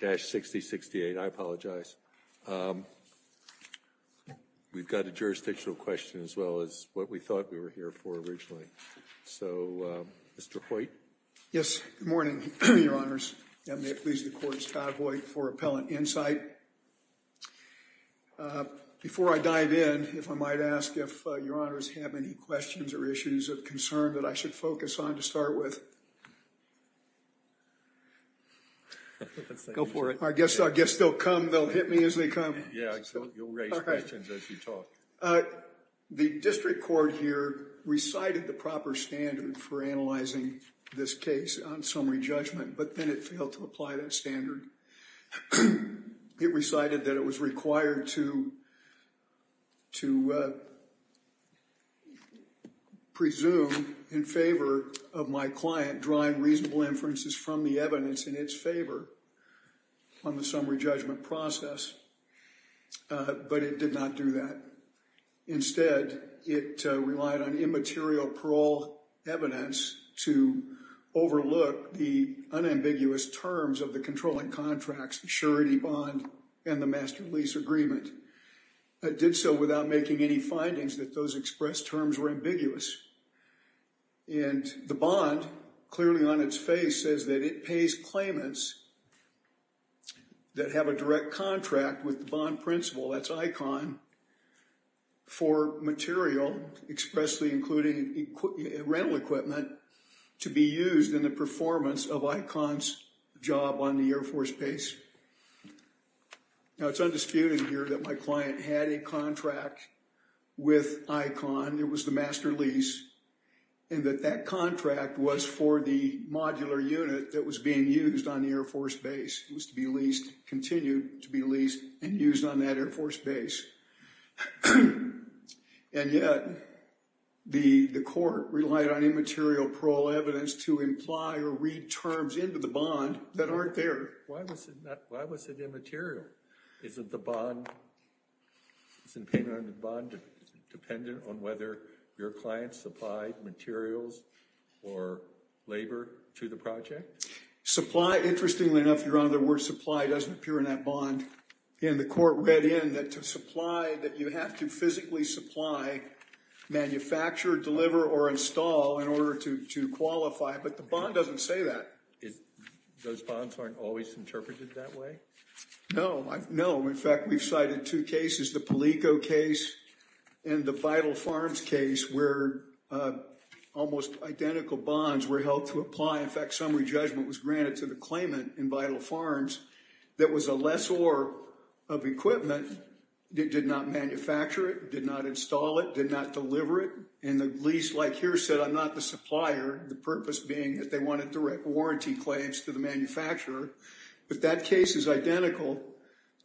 24-60-68 I apologize We've got a jurisdictional question as well as what we thought we were here for originally so Mr.. Hoyt yes morning your honors and they please the courts cowboy for appellant insight Before I dive in if I might ask if your honors have any questions or issues of concern that I should focus on to start with I Guess I guess they'll come they'll hit me as they come The district court here recited the proper standard for analyzing this case on summary judgment But then it failed to apply that standard It recited that it was required to To Presume In favor of my client drawing reasonable inferences from the evidence in its favor on the summary judgment process But it did not do that instead it relied on immaterial parole evidence to overlook the Unambiguous terms of the controlling contracts surety bond and the master lease agreement But did so without making any findings that those expressed terms were ambiguous And the bond clearly on its face says that it pays claimants That have a direct contract with the bond principal that's icon for material expressly including Rental equipment to be used in the performance of icons job on the Air Force base Now it's undisputed here that my client had a contract With icon it was the master lease And that that contract was for the modular unit that was being used on the Air Force base It was to be leased continued to be leased and used on that Air Force base and yet The the court relied on immaterial parole evidence to imply or read terms into the bond that aren't there Why was it immaterial? Isn't the bond? It's in payment on the bond dependent on whether your clients supplied materials or labor to the project Supply interestingly enough you're on the word supply doesn't appear in that bond And the court read in that to supply that you have to physically supply Manufacture deliver or install in order to qualify, but the bond doesn't say that is those bonds aren't always interpreted that way No, no, in fact, we've cited two cases the Palico case and the vital farms case where? Almost identical bonds were helped to apply in fact summary judgment was granted to the claimant in vital farms That was a lessor of Equipment it did not manufacture it did not install it did not deliver it and the least like here said I'm not the supplier the purpose being that they wanted direct warranty claims to the manufacturer But that case is identical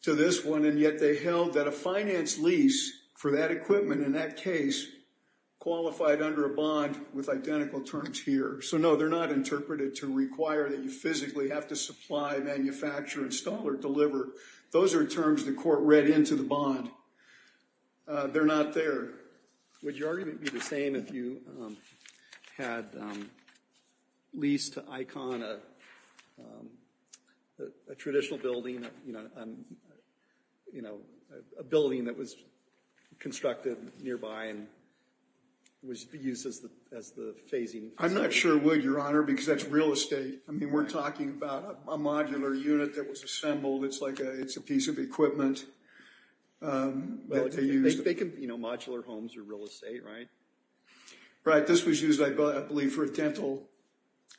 to this one and yet they held that a finance lease for that equipment in that case Qualified under a bond with identical terms here, so no they're not interpreted to require that you physically have to supply Manufacture install or deliver those are terms the court read into the bond They're not there. Would you argue to be the same if you? had least icon a Traditional building you know you know a building that was constructed nearby and Was used as the as the phasing I'm not sure would your honor because that's real estate I mean, we're talking about a modular unit that was assembled. It's like it's a piece of equipment Well if they can you know modular homes or real estate, right Right this was used. I believe for a dental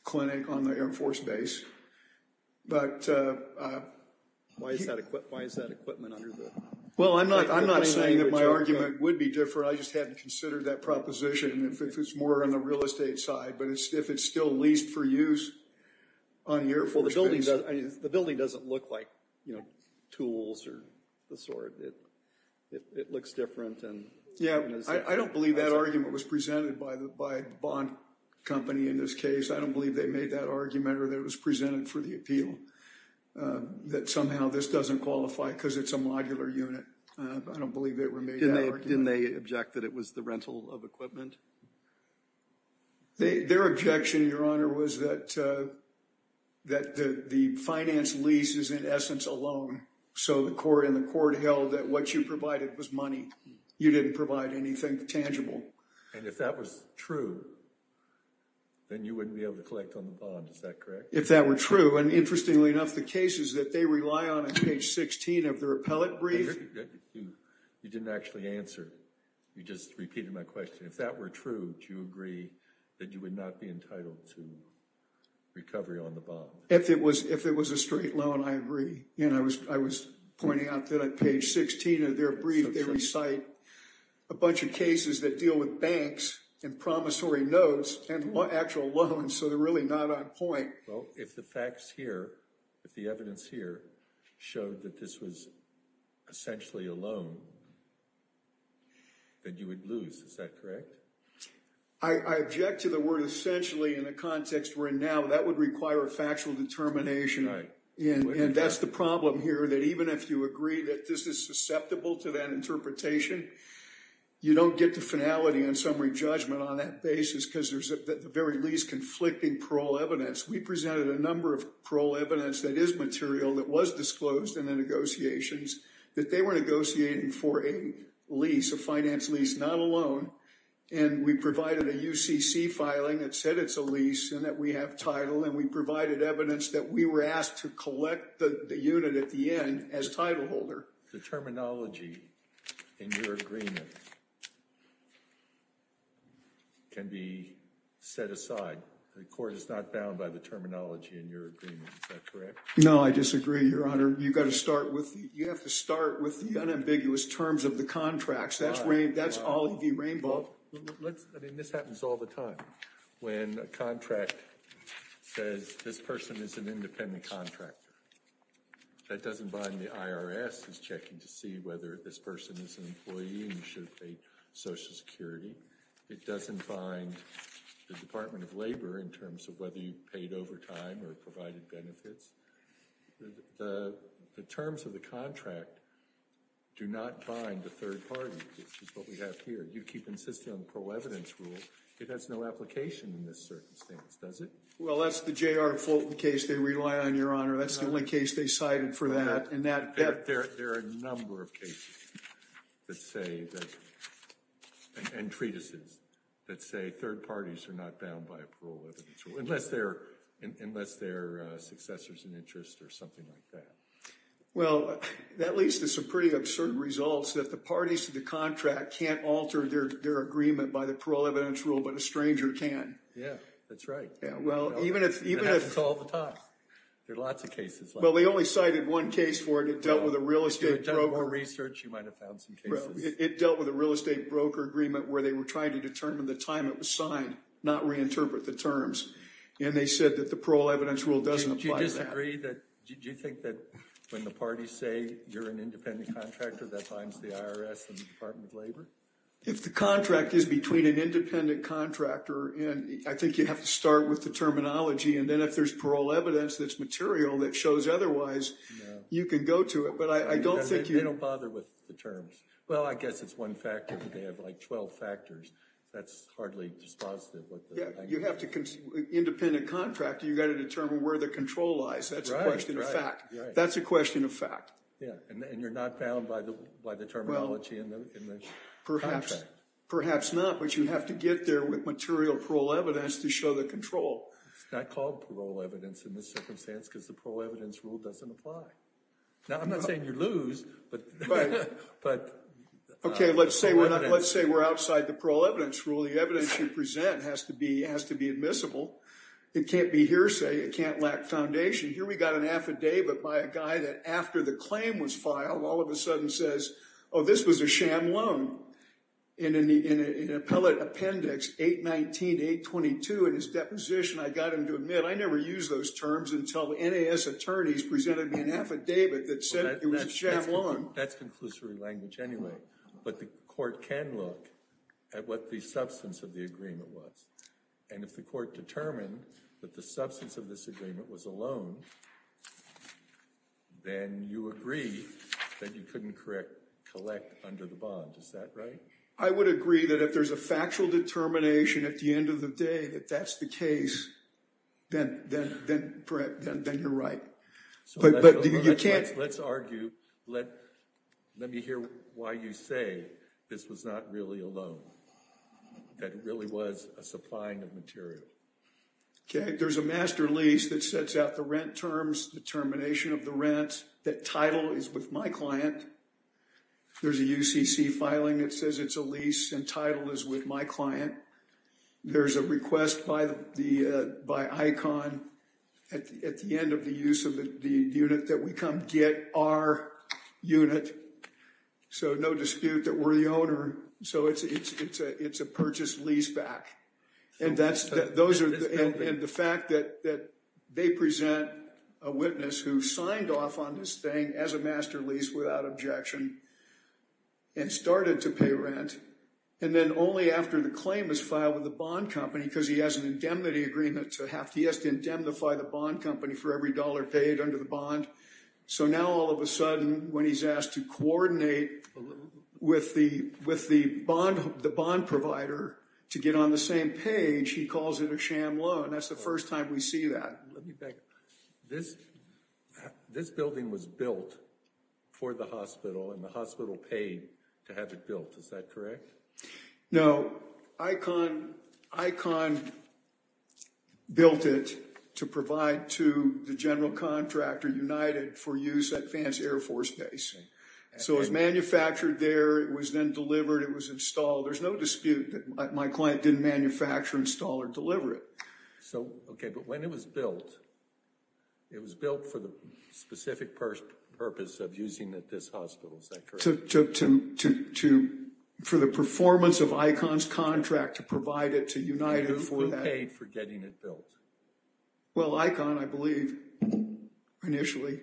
clinic on the Air Force Base but Why is that equipment under the well? I'm not I'm not saying that my argument would be different I just haven't considered that proposition if it's more on the real estate side, but it's if it's still leased for use On your for the building the building doesn't look like you know tools or the sword it It looks different, and yeah, I don't believe that argument was presented by the by bond company in this case I don't believe they made that argument or that was presented for the appeal That somehow this doesn't qualify because it's a modular unit. I don't believe they were made in they object that it was the rental of equipment They their objection your honor was that That the finance lease is in essence alone So the court in the court held that what you provided was money you didn't provide anything tangible and if that was true Then you wouldn't be able to collect on the bond is that correct if that were true and interestingly enough the cases that they rely on at page 16 of their appellate brief You didn't actually answer. You just repeated my question if that were true. Do you agree that you would not be entitled to? Recovery on the bomb if it was if it was a straight loan I agree, and I was I was pointing out that at page 16 of their brief Recite a Bunch of cases that deal with banks and promissory notes and what actual loans, so they're really not on point well if the facts here if the evidence here showed that this was essentially alone Then you would lose is that correct I Object to the word essentially in a context where now that would require a factual determination Yeah, and that's the problem here that even if you agree that this is susceptible to that interpretation You don't get the finality and summary judgment on that basis because there's a very least conflicting parole evidence We presented a number of parole evidence that is material that was disclosed in the negotiations that they were negotiating for a lease a finance lease not alone and We provided a UCC filing that said it's a lease and that we have title and we provided Evidence that we were asked to collect the unit at the end as title holder the terminology in your agreement Can be Set aside the court is not bound by the terminology in your agreement No, I disagree your honor. You've got to start with you have to start with the unambiguous terms of the contracts That's right. That's all the rainbow This happens all the time when a contract Says this person is an independent contractor That doesn't bind the IRS is checking to see whether this person is an employee. You should pay Social Security It doesn't find the Department of Labor in terms of whether you paid overtime or provided benefits The terms of the contract Do not bind the third party. This is what we have here. You keep insisting on the pro-evidence rule That's no application in this circumstance, does it? Well, that's the J.R. Fulton case. They rely on your honor That's the only case they cited for that and that there are a number of cases that say And treatises that say third parties are not bound by a pro-evidence rule unless they're Unless they're successors in interest or something like that Well, that leads to some pretty absurd results that the parties to the contract can't alter their agreement by the pro-evidence rule But a stranger can yeah, that's right. Yeah. Well, even if even if it's all the time, there are lots of cases Well, they only cited one case for it. It dealt with a real estate broker research You might have found some cases It dealt with a real estate broker agreement where they were trying to determine the time it was signed not reinterpret the terms And they said that the parole evidence rule doesn't apply to that. Do you disagree that? Do you think that when the parties say you're an independent contractor that binds the IRS and the Department of Labor? If the contract is between an independent contractor and I think you have to start with the terminology and then if there's parole evidence That's material that shows otherwise You can go to it, but I don't think you don't bother with the terms. Well, I guess it's one factor They have like 12 factors. That's hardly just positive. Yeah, you have to Independent contractor you got to determine where the control lies. That's right. In fact, that's a question of fact And you're not bound by the by the terminology and Perhaps perhaps not but you have to get there with material parole evidence to show the control It's not called parole evidence in this circumstance because the parole evidence rule doesn't apply now I'm not saying you lose but but Okay, let's say we're not let's say we're outside the parole evidence rule The evidence you present has to be has to be admissible. It can't be hearsay. It can't lack foundation here But by a guy that after the claim was filed all of a sudden says, oh this was a sham loan In an appellate appendix 819 822 in his deposition. I got him to admit I never used those terms until the NAS attorneys presented me an affidavit that said it was a sham loan That's conclusory language anyway But the court can look at what the substance of the agreement was and if the court determined That the substance of this agreement was a loan Then you agree that you couldn't correct collect under the bond, is that right? I would agree that if there's a factual determination at the end of the day that that's the case Then then then you're right But you can't let's argue. Let let me hear why you say this was not really a loan That really was a supplying of material Okay, there's a master lease that sets out the rent terms the termination of the rent that title is with my client There's a UCC filing that says it's a lease and title is with my client there's a request by the By icon at the end of the use of the unit that we come get our unit So no dispute that we're the owner. So it's it's it's a purchase lease back and that's those are the fact that that they present a witness who signed off on this thing as a master lease without objection and started to pay rent and Then only after the claim is filed with the bond company because he has an indemnity agreement to have he has to indemnify the bond Company for every dollar paid under the bond. So now all of a sudden when he's asked to coordinate With the with the bond the bond provider to get on the same page. He calls it a sham loan That's the first time we see that this This building was built For the hospital and the hospital paid to have it built. Is that correct? No icon icon Built it to provide to the general contractor United for use at Vance Air Force Base So it's manufactured there. It was then delivered. It was installed. There's no dispute that my client didn't manufacture install or deliver it Okay, but when it was built it was built for the specific purpose of using that this hospital sector took to For the performance of icons contract to provide it to United for paid for getting it built Well icon, I believe initially,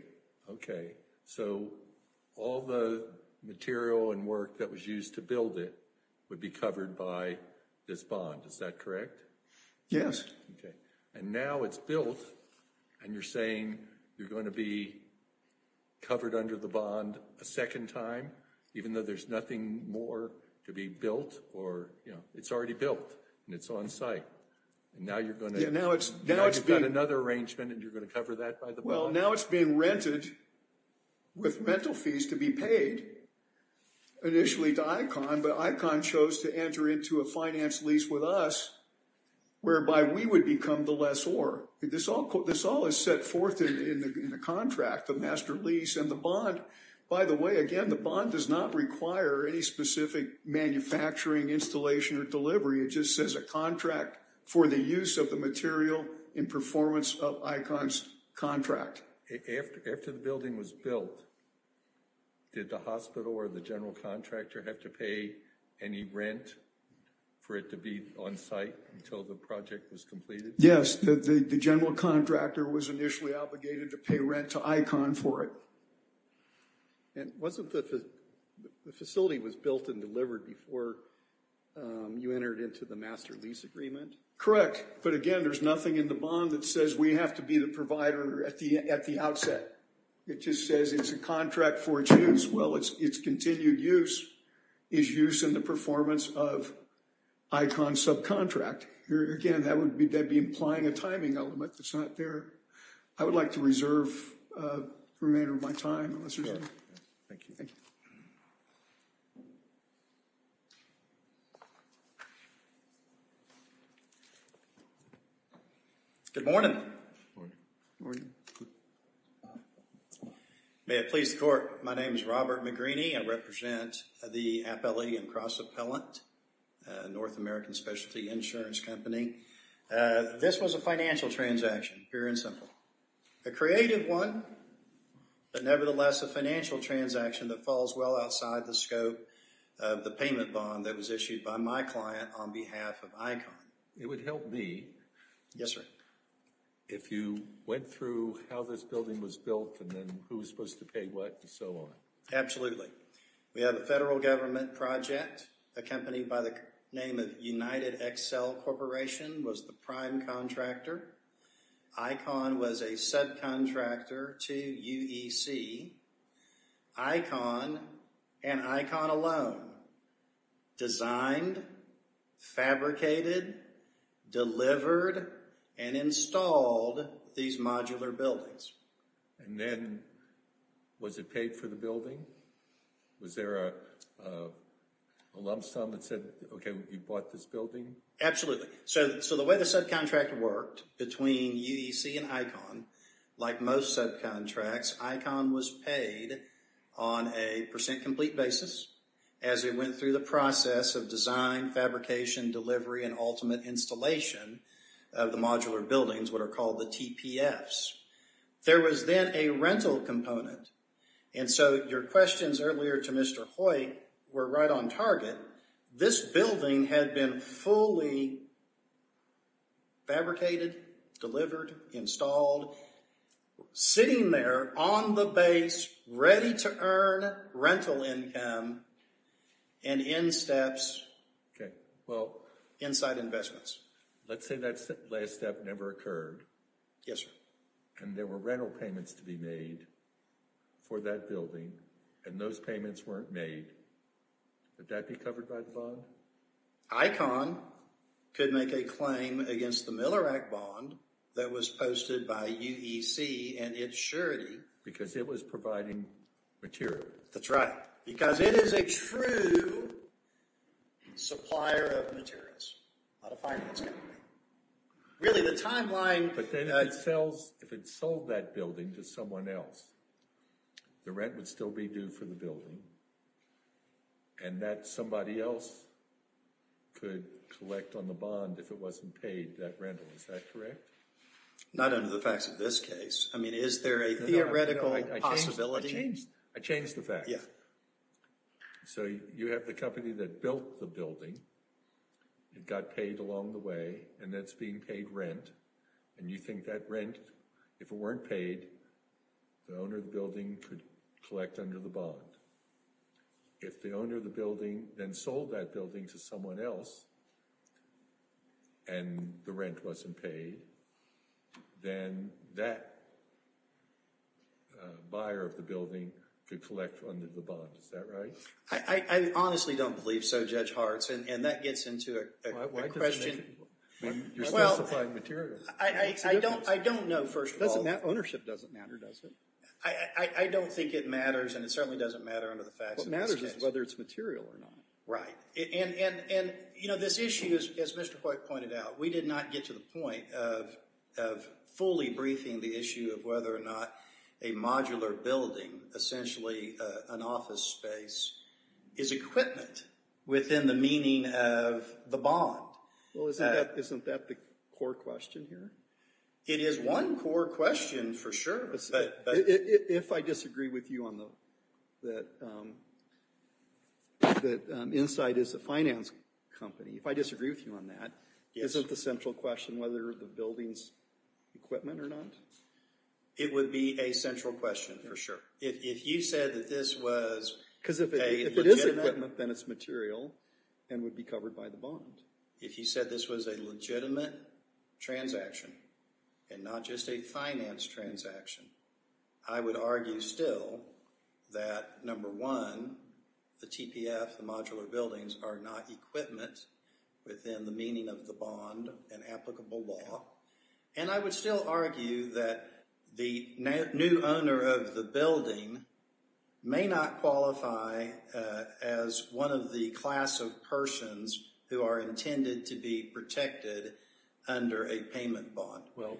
okay, so all the Material and work that was used to build it would be covered by this bond. Is that correct? Yes And now it's built and you're saying you're going to be Covered under the bond a second time even though there's nothing more to be built or you know It's already built and it's on site Now you're going to now it's now it's got another arrangement and you're going to cover that by the well now it's being rented with rental fees to be paid Initially to icon but icon chose to enter into a finance lease with us whereby we would become the less or This all this all is set forth in the contract the master lease and the bond By the way, again, the bond does not require any specific Manufacturing installation or delivery. It just says a contract for the use of the material in performance of icons contract After the building was built Did the hospital or the general contractor have to pay any rent? For it to be on site until the project was completed Yes, the general contractor was initially obligated to pay rent to icon for it and wasn't that the facility was built and delivered before You entered into the master lease agreement, correct? But again, there's nothing in the bond that says we have to be the provider at the at the outset It just says it's a contract for its use. Well, it's it's continued use is in the performance of Icon subcontract here again, that would be dead be implying a timing element. That's not there. I would like to reserve remainder of my time Good morning Morning May it please the court. My name is Robert McGreeny. I represent the appellee and cross-appellant North American specialty insurance company this was a financial transaction pure and simple a creative one But nevertheless a financial transaction that falls well outside the scope The payment bond that was issued by my client on behalf of icon. It would help me. Yes, sir If you went through how this building was built and then who was supposed to pay what and so on Absolutely. We have a federal government project Accompanied by the name of United Excel Corporation was the prime contractor Icon was a subcontractor to UEC Icon and icon alone designed Fabricated delivered and installed these modular buildings and then Was it paid for the building? Was there a? Lump sum that said, okay, you bought this building. Absolutely So so the way the subcontractor worked between UEC and icon like most subcontracts icon was paid On a percent complete basis as it went through the process of design fabrication Delivery and ultimate installation of the modular buildings what are called the TPFs There was then a rental component. And so your questions earlier to mr. Hoyt were right on target This building had been fully Fabricated delivered installed Sitting there on the base ready to earn rental income and in steps Inside investments, let's say that's the last step never occurred. Yes, sir, and there were rental payments to be made For that building and those payments weren't made Did that be covered by the bond? icon Could make a claim against the Miller Act bond that was posted by UEC and its surety because it was providing Material that's right because it is a true Supplier of materials Really the timeline but then it sells if it sold that building to someone else the rent would still be due for the building and That somebody else Could collect on the bond if it wasn't paid that rental. Is that correct? Not under the facts of this case. I mean, is there a theoretical possibility? I changed the fact. Yeah So you have the company that built the building It got paid along the way and that's being paid rent and you think that rent if it weren't paid The owner of the building could collect under the bond if the owner of the building then sold that building to someone else and The rent wasn't paid then that Buyer of the building could collect from the bond. Is that right? I Honestly don't believe so judge hearts and that gets into a question Well, I don't I don't know first doesn't that ownership doesn't matter does it? I I don't think it matters and it certainly doesn't matter under the fact that matters whether it's material or not, right? And and you know this issue is as mr. Poit pointed out. We did not get to the point of Fully briefing the issue of whether or not a modular building essentially an office space is Equipment within the meaning of the bond. Well, isn't that the core question here? It is one core question for sure, but if I disagree with you on the that The Inside is a finance company if I disagree with you on that isn't the central question whether the buildings Equipment or not It would be a central question for sure if you said that this was because if it is equipment then it's material and Would be covered by the bond if you said this was a legitimate Transaction and not just a finance transaction. I would argue still that Number one The TPF the modular buildings are not equipment within the meaning of the bond and applicable law and I would still argue that the new owner of the building may not qualify as one of the class of persons who are intended to be protected under a payment bond well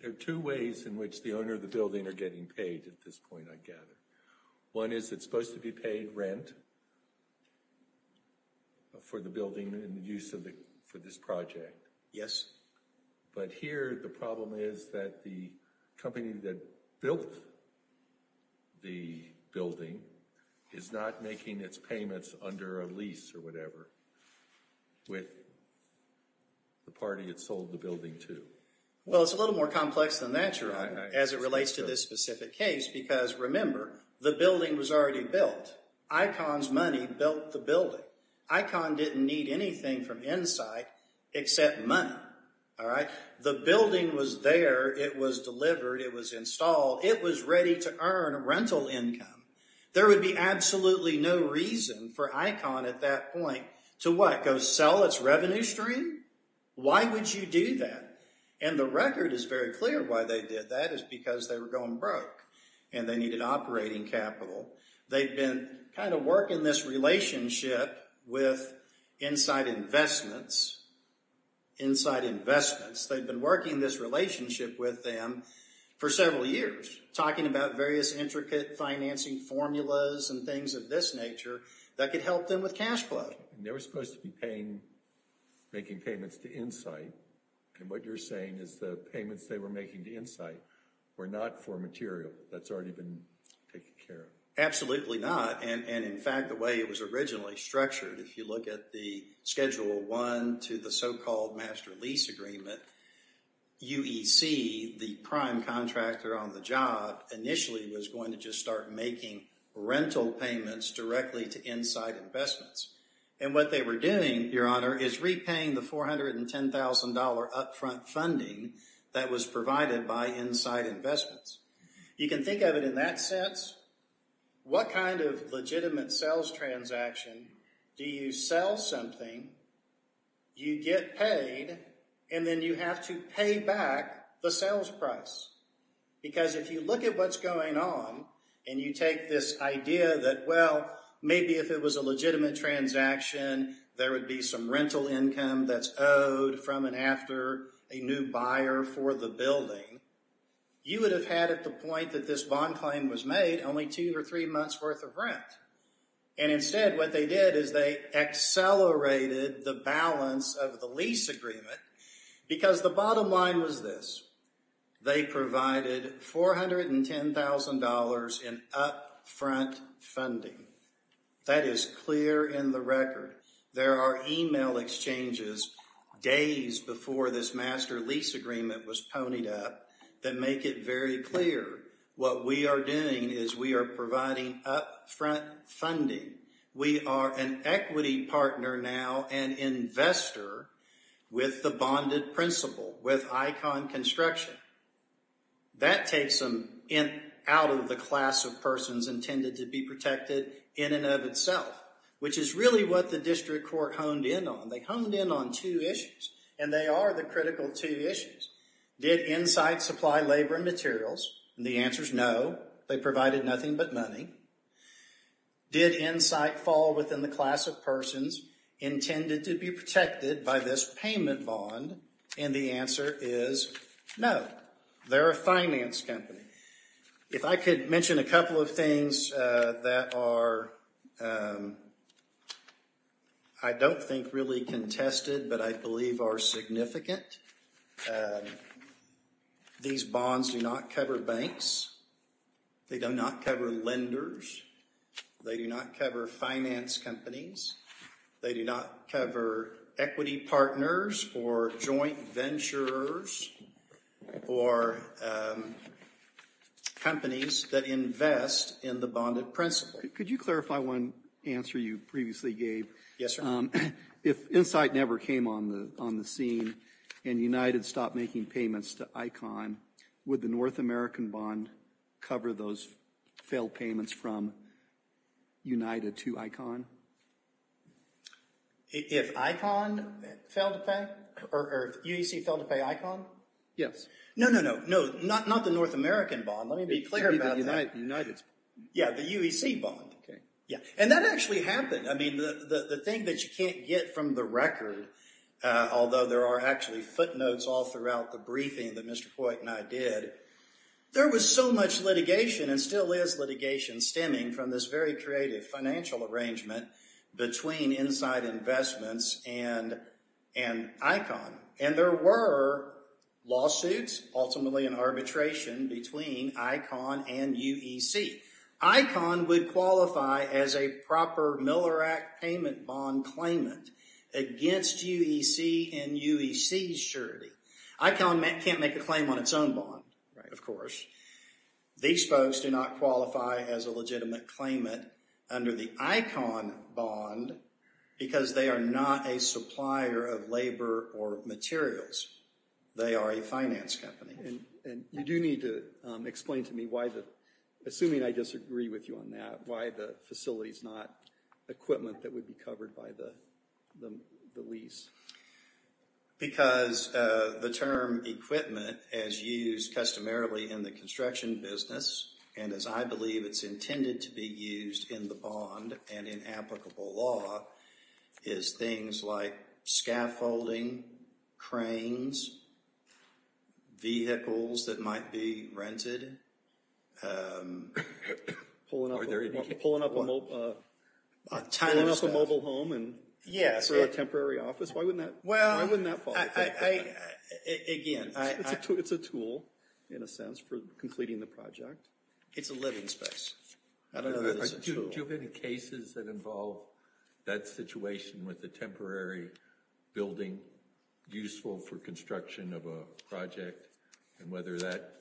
There are two ways in which the owner of the building are getting paid at this point I gather One is it's supposed to be paid rent For the building and the use of the for this project, yes but here the problem is that the company that built The building is not making its payments under a lease or whatever with The party it sold the building to Well, it's a little more complex than that You're on as it relates to this specific case because remember the building was already built Icons money built the building icon didn't need anything from inside Except money. All right, the building was there it was delivered. It was installed It was ready to earn rental income There would be absolutely no reason for icon at that point to what go sell its revenue stream Why would you do that? And the record is very clear why they did that is because they were going broke and they needed operating capital They've been kind of working this relationship with inside investments Inside investments they've been working this relationship with them for several years talking about various intricate Financing formulas and things of this nature that could help them with cash flow. They were supposed to be paying Making payments to insight and what you're saying is the payments they were making the insight were not for material That's already been taken care of Absolutely not and and in fact the way it was originally structured if you look at the schedule one to the so-called master lease agreement UEC the prime contractor on the job initially was going to just start making rental payments directly to inside investments and what they were doing your honor is repaying the $410,000 upfront funding that was provided by inside investments. You can think of it in that sense What kind of legitimate sales transaction do you sell something? You get paid and then you have to pay back the sales price Because if you look at what's going on and you take this idea that well, maybe if it was a legitimate transaction There would be some rental income that's owed from and after a new buyer for the building you would have had at the point that this bond claim was made only two or three months worth of rent and instead what they did is they Accelerated the balance of the lease agreement because the bottom line was this they provided $410,000 in upfront funding That is clear in the record. There are email exchanges Days before this master lease agreement was ponied up that make it very clear What we are doing is we are providing up front funding We are an equity partner now an investor with the bonded principle with icon construction That takes them in out of the class of persons intended to be protected in and of itself Which is really what the district court honed in on they honed in on two issues and they are the critical two issues Did insight supply labor and materials and the answer is no they provided nothing but money Did insight fall within the class of persons Intended to be protected by this payment bond and the answer is no They're a finance company If I could mention a couple of things that are I Don't think really contested, but I believe are significant These bonds do not cover banks They do not cover lenders They do not cover finance companies. They do not cover equity partners or joint ventures or Companies that invest in the bonded principle, could you clarify one answer you previously gave? Yes, if insight never came on the on the scene and United stopped making payments to icon With the North American bond cover those failed payments from United to icon If icon Fell to pay or UEC fell to pay icon. Yes. No, no, no, no, not not the North American bond Let me be clear about United's. Yeah, the UEC bond. Okay. Yeah, and that actually happened I mean the the thing that you can't get from the record Although there are actually footnotes all throughout the briefing that mr. Poit and I did There was so much litigation and still is litigation stemming from this very creative financial arrangement between inside investments and and icon and there were lawsuits ultimately an arbitration between icon and UEC Icon would qualify as a proper Miller Act payment bond claimant Against UEC and UEC surety icon Matt can't make a claim on its own bond, right? Of course These folks do not qualify as a legitimate claimant under the icon bond Because they are not a supplier of labor or materials They are a finance company and you do need to explain to me why the Assuming I disagree with you on that why the facility is not Equipment that would be covered by the the lease because the term equipment as used customarily in the construction business and as I believe it's intended to be used in the bond and in applicable law is things like scaffolding cranes Vehicles that might be rented Pulling up a mobile home and yes for a temporary office. Why wouldn't that well? Again it's a tool in a sense for completing the project. It's a living space I don't know do you have any cases that involve that situation with the temporary? building Useful for construction of a project and whether that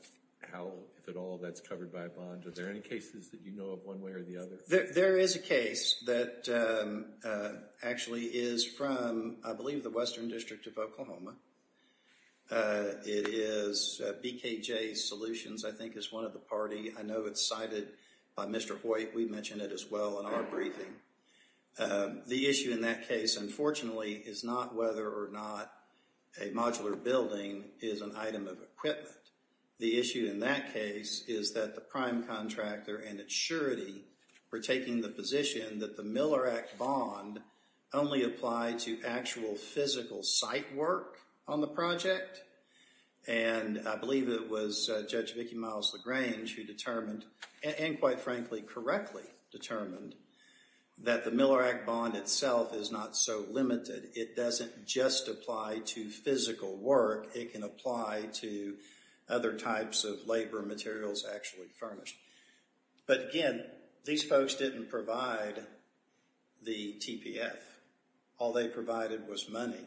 How if at all that's covered by a bond are there any cases that you know of one way or the other there is? a case that Actually is from I believe the Western District of Oklahoma It is BKJ solutions, I think is one of the party. I know it's cited by mr. Hoyt. We mentioned it as well in our briefing The issue in that case unfortunately is not whether or not a modular building is an item of equipment The issue in that case is that the prime contractor and its surety We're taking the position that the Miller Act bond only applied to actual physical site work on the project and I believe it was Judge Vicki Myles LaGrange who determined and quite frankly correctly determined That the Miller Act bond itself is not so limited. It doesn't just apply to physical work It can apply to other types of labor materials actually furnished But again, these folks didn't provide the TPF all they provided was money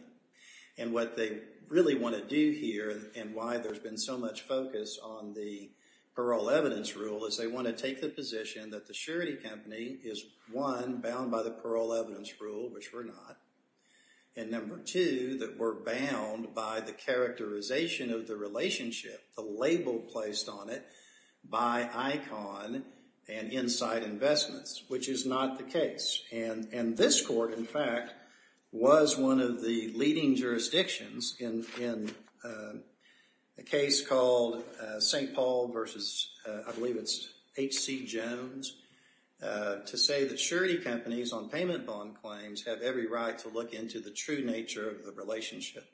and what they really want to do here and why there's been so much focus on the Parole evidence rule is they want to take the position that the surety company is one bound by the parole evidence rule which we're not and number two that we're bound by the characterization of the relationship the label placed on it by icon and Inside investments, which is not the case and and this court in fact was one of the leading jurisdictions in A case called St. Paul versus I believe it's HC Jones To say that surety companies on payment bond claims have every right to look into the true nature of the relationship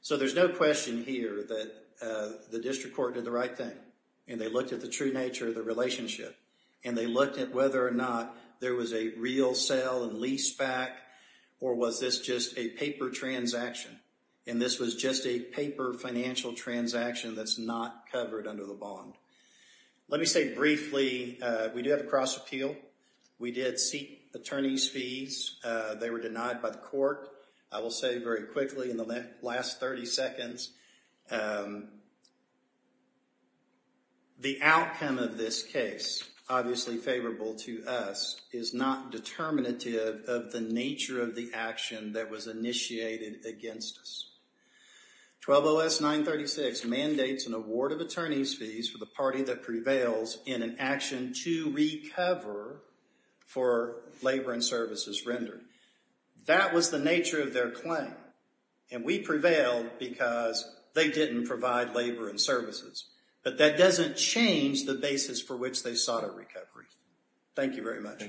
So there's no question here that The district court did the right thing and they looked at the true nature of the relationship And they looked at whether or not there was a real sale and lease back Or was this just a paper transaction and this was just a paper financial transaction that's not covered under the bond Let me say briefly We do have a cross appeal. We did seek attorneys fees. They were denied by the court I will say very quickly in the last 30 seconds The outcome of this case Obviously favorable to us is not determinative of the nature of the action that was initiated against us 12 OS 936 mandates an award of attorneys fees for the party that prevails in an action to recover for labor and services rendered That was the nature of their claim and we prevailed because they didn't provide labor and services But that doesn't change the basis for which they sought a recovery, thank you very much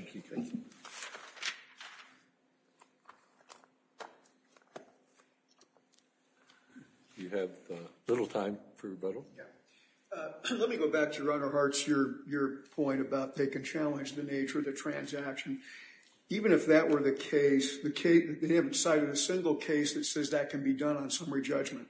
You have little time for rebuttal Let me go back to your honor hearts your your point about they can challenge the nature of the transaction Even if that were the case the case they haven't cited a single case that says that can be done on summary judgment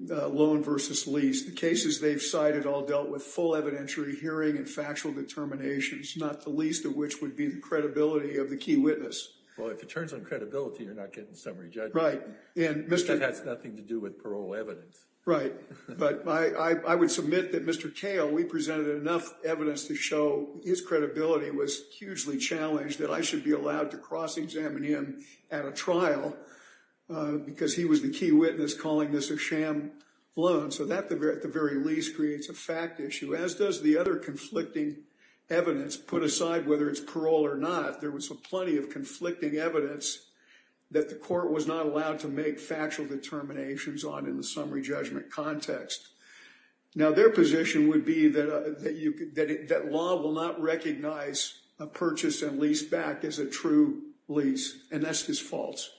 Loan versus lease the cases they've cited all dealt with full evidentiary hearing and factual Determinations not the least of which would be the credibility of the key witness Well, if it turns on credibility, you're not getting summary judge, right? And mr. That's nothing to do with parole evidence, right? But I I would submit that mr Kale we presented enough evidence to show his credibility was hugely challenged that I should be allowed to cross-examine him at a trial Because he was the key witness calling this a sham loan So that the very least creates a fact issue as does the other conflicting? Evidence put aside whether it's parole or not. There was a plenty of conflicting evidence That the court was not allowed to make factual determinations on in the summary judgment context Now their position would be that that you could that law will not recognize a purchase and lease back as a true Lease and that's his faults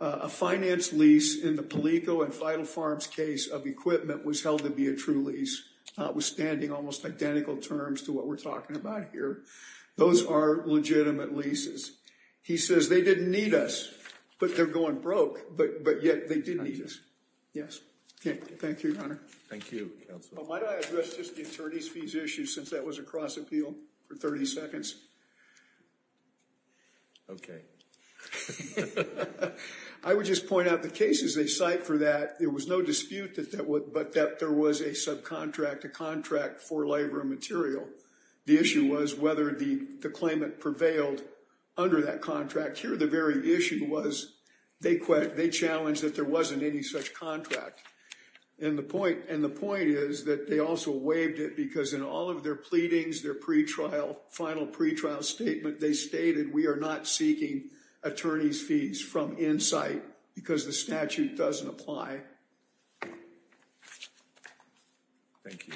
A finance lease in the Palico and vital farms case of equipment was held to be a true lease Was standing almost identical terms to what we're talking about here. Those are legitimate leases He says they didn't need us, but they're going broke. But but yet they didn't eat us. Yes. Okay. Thank you Since that was a cross-appeal for 30 seconds Okay I would just point out the cases they cite for that There was no dispute that that would but that there was a subcontract a contract for labor and material The issue was whether the the claimant prevailed under that contract here the very issue was they quit they challenged that there wasn't any such contract and The point and the point is that they also waived it because in all of their pleadings their pretrial final pretrial statement They stated we are not seeking Attorney's fees from insight because the statute doesn't apply Thank you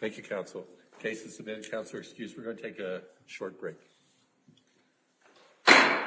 Thank You counsel cases submitted counselor excuse we're going to take a short break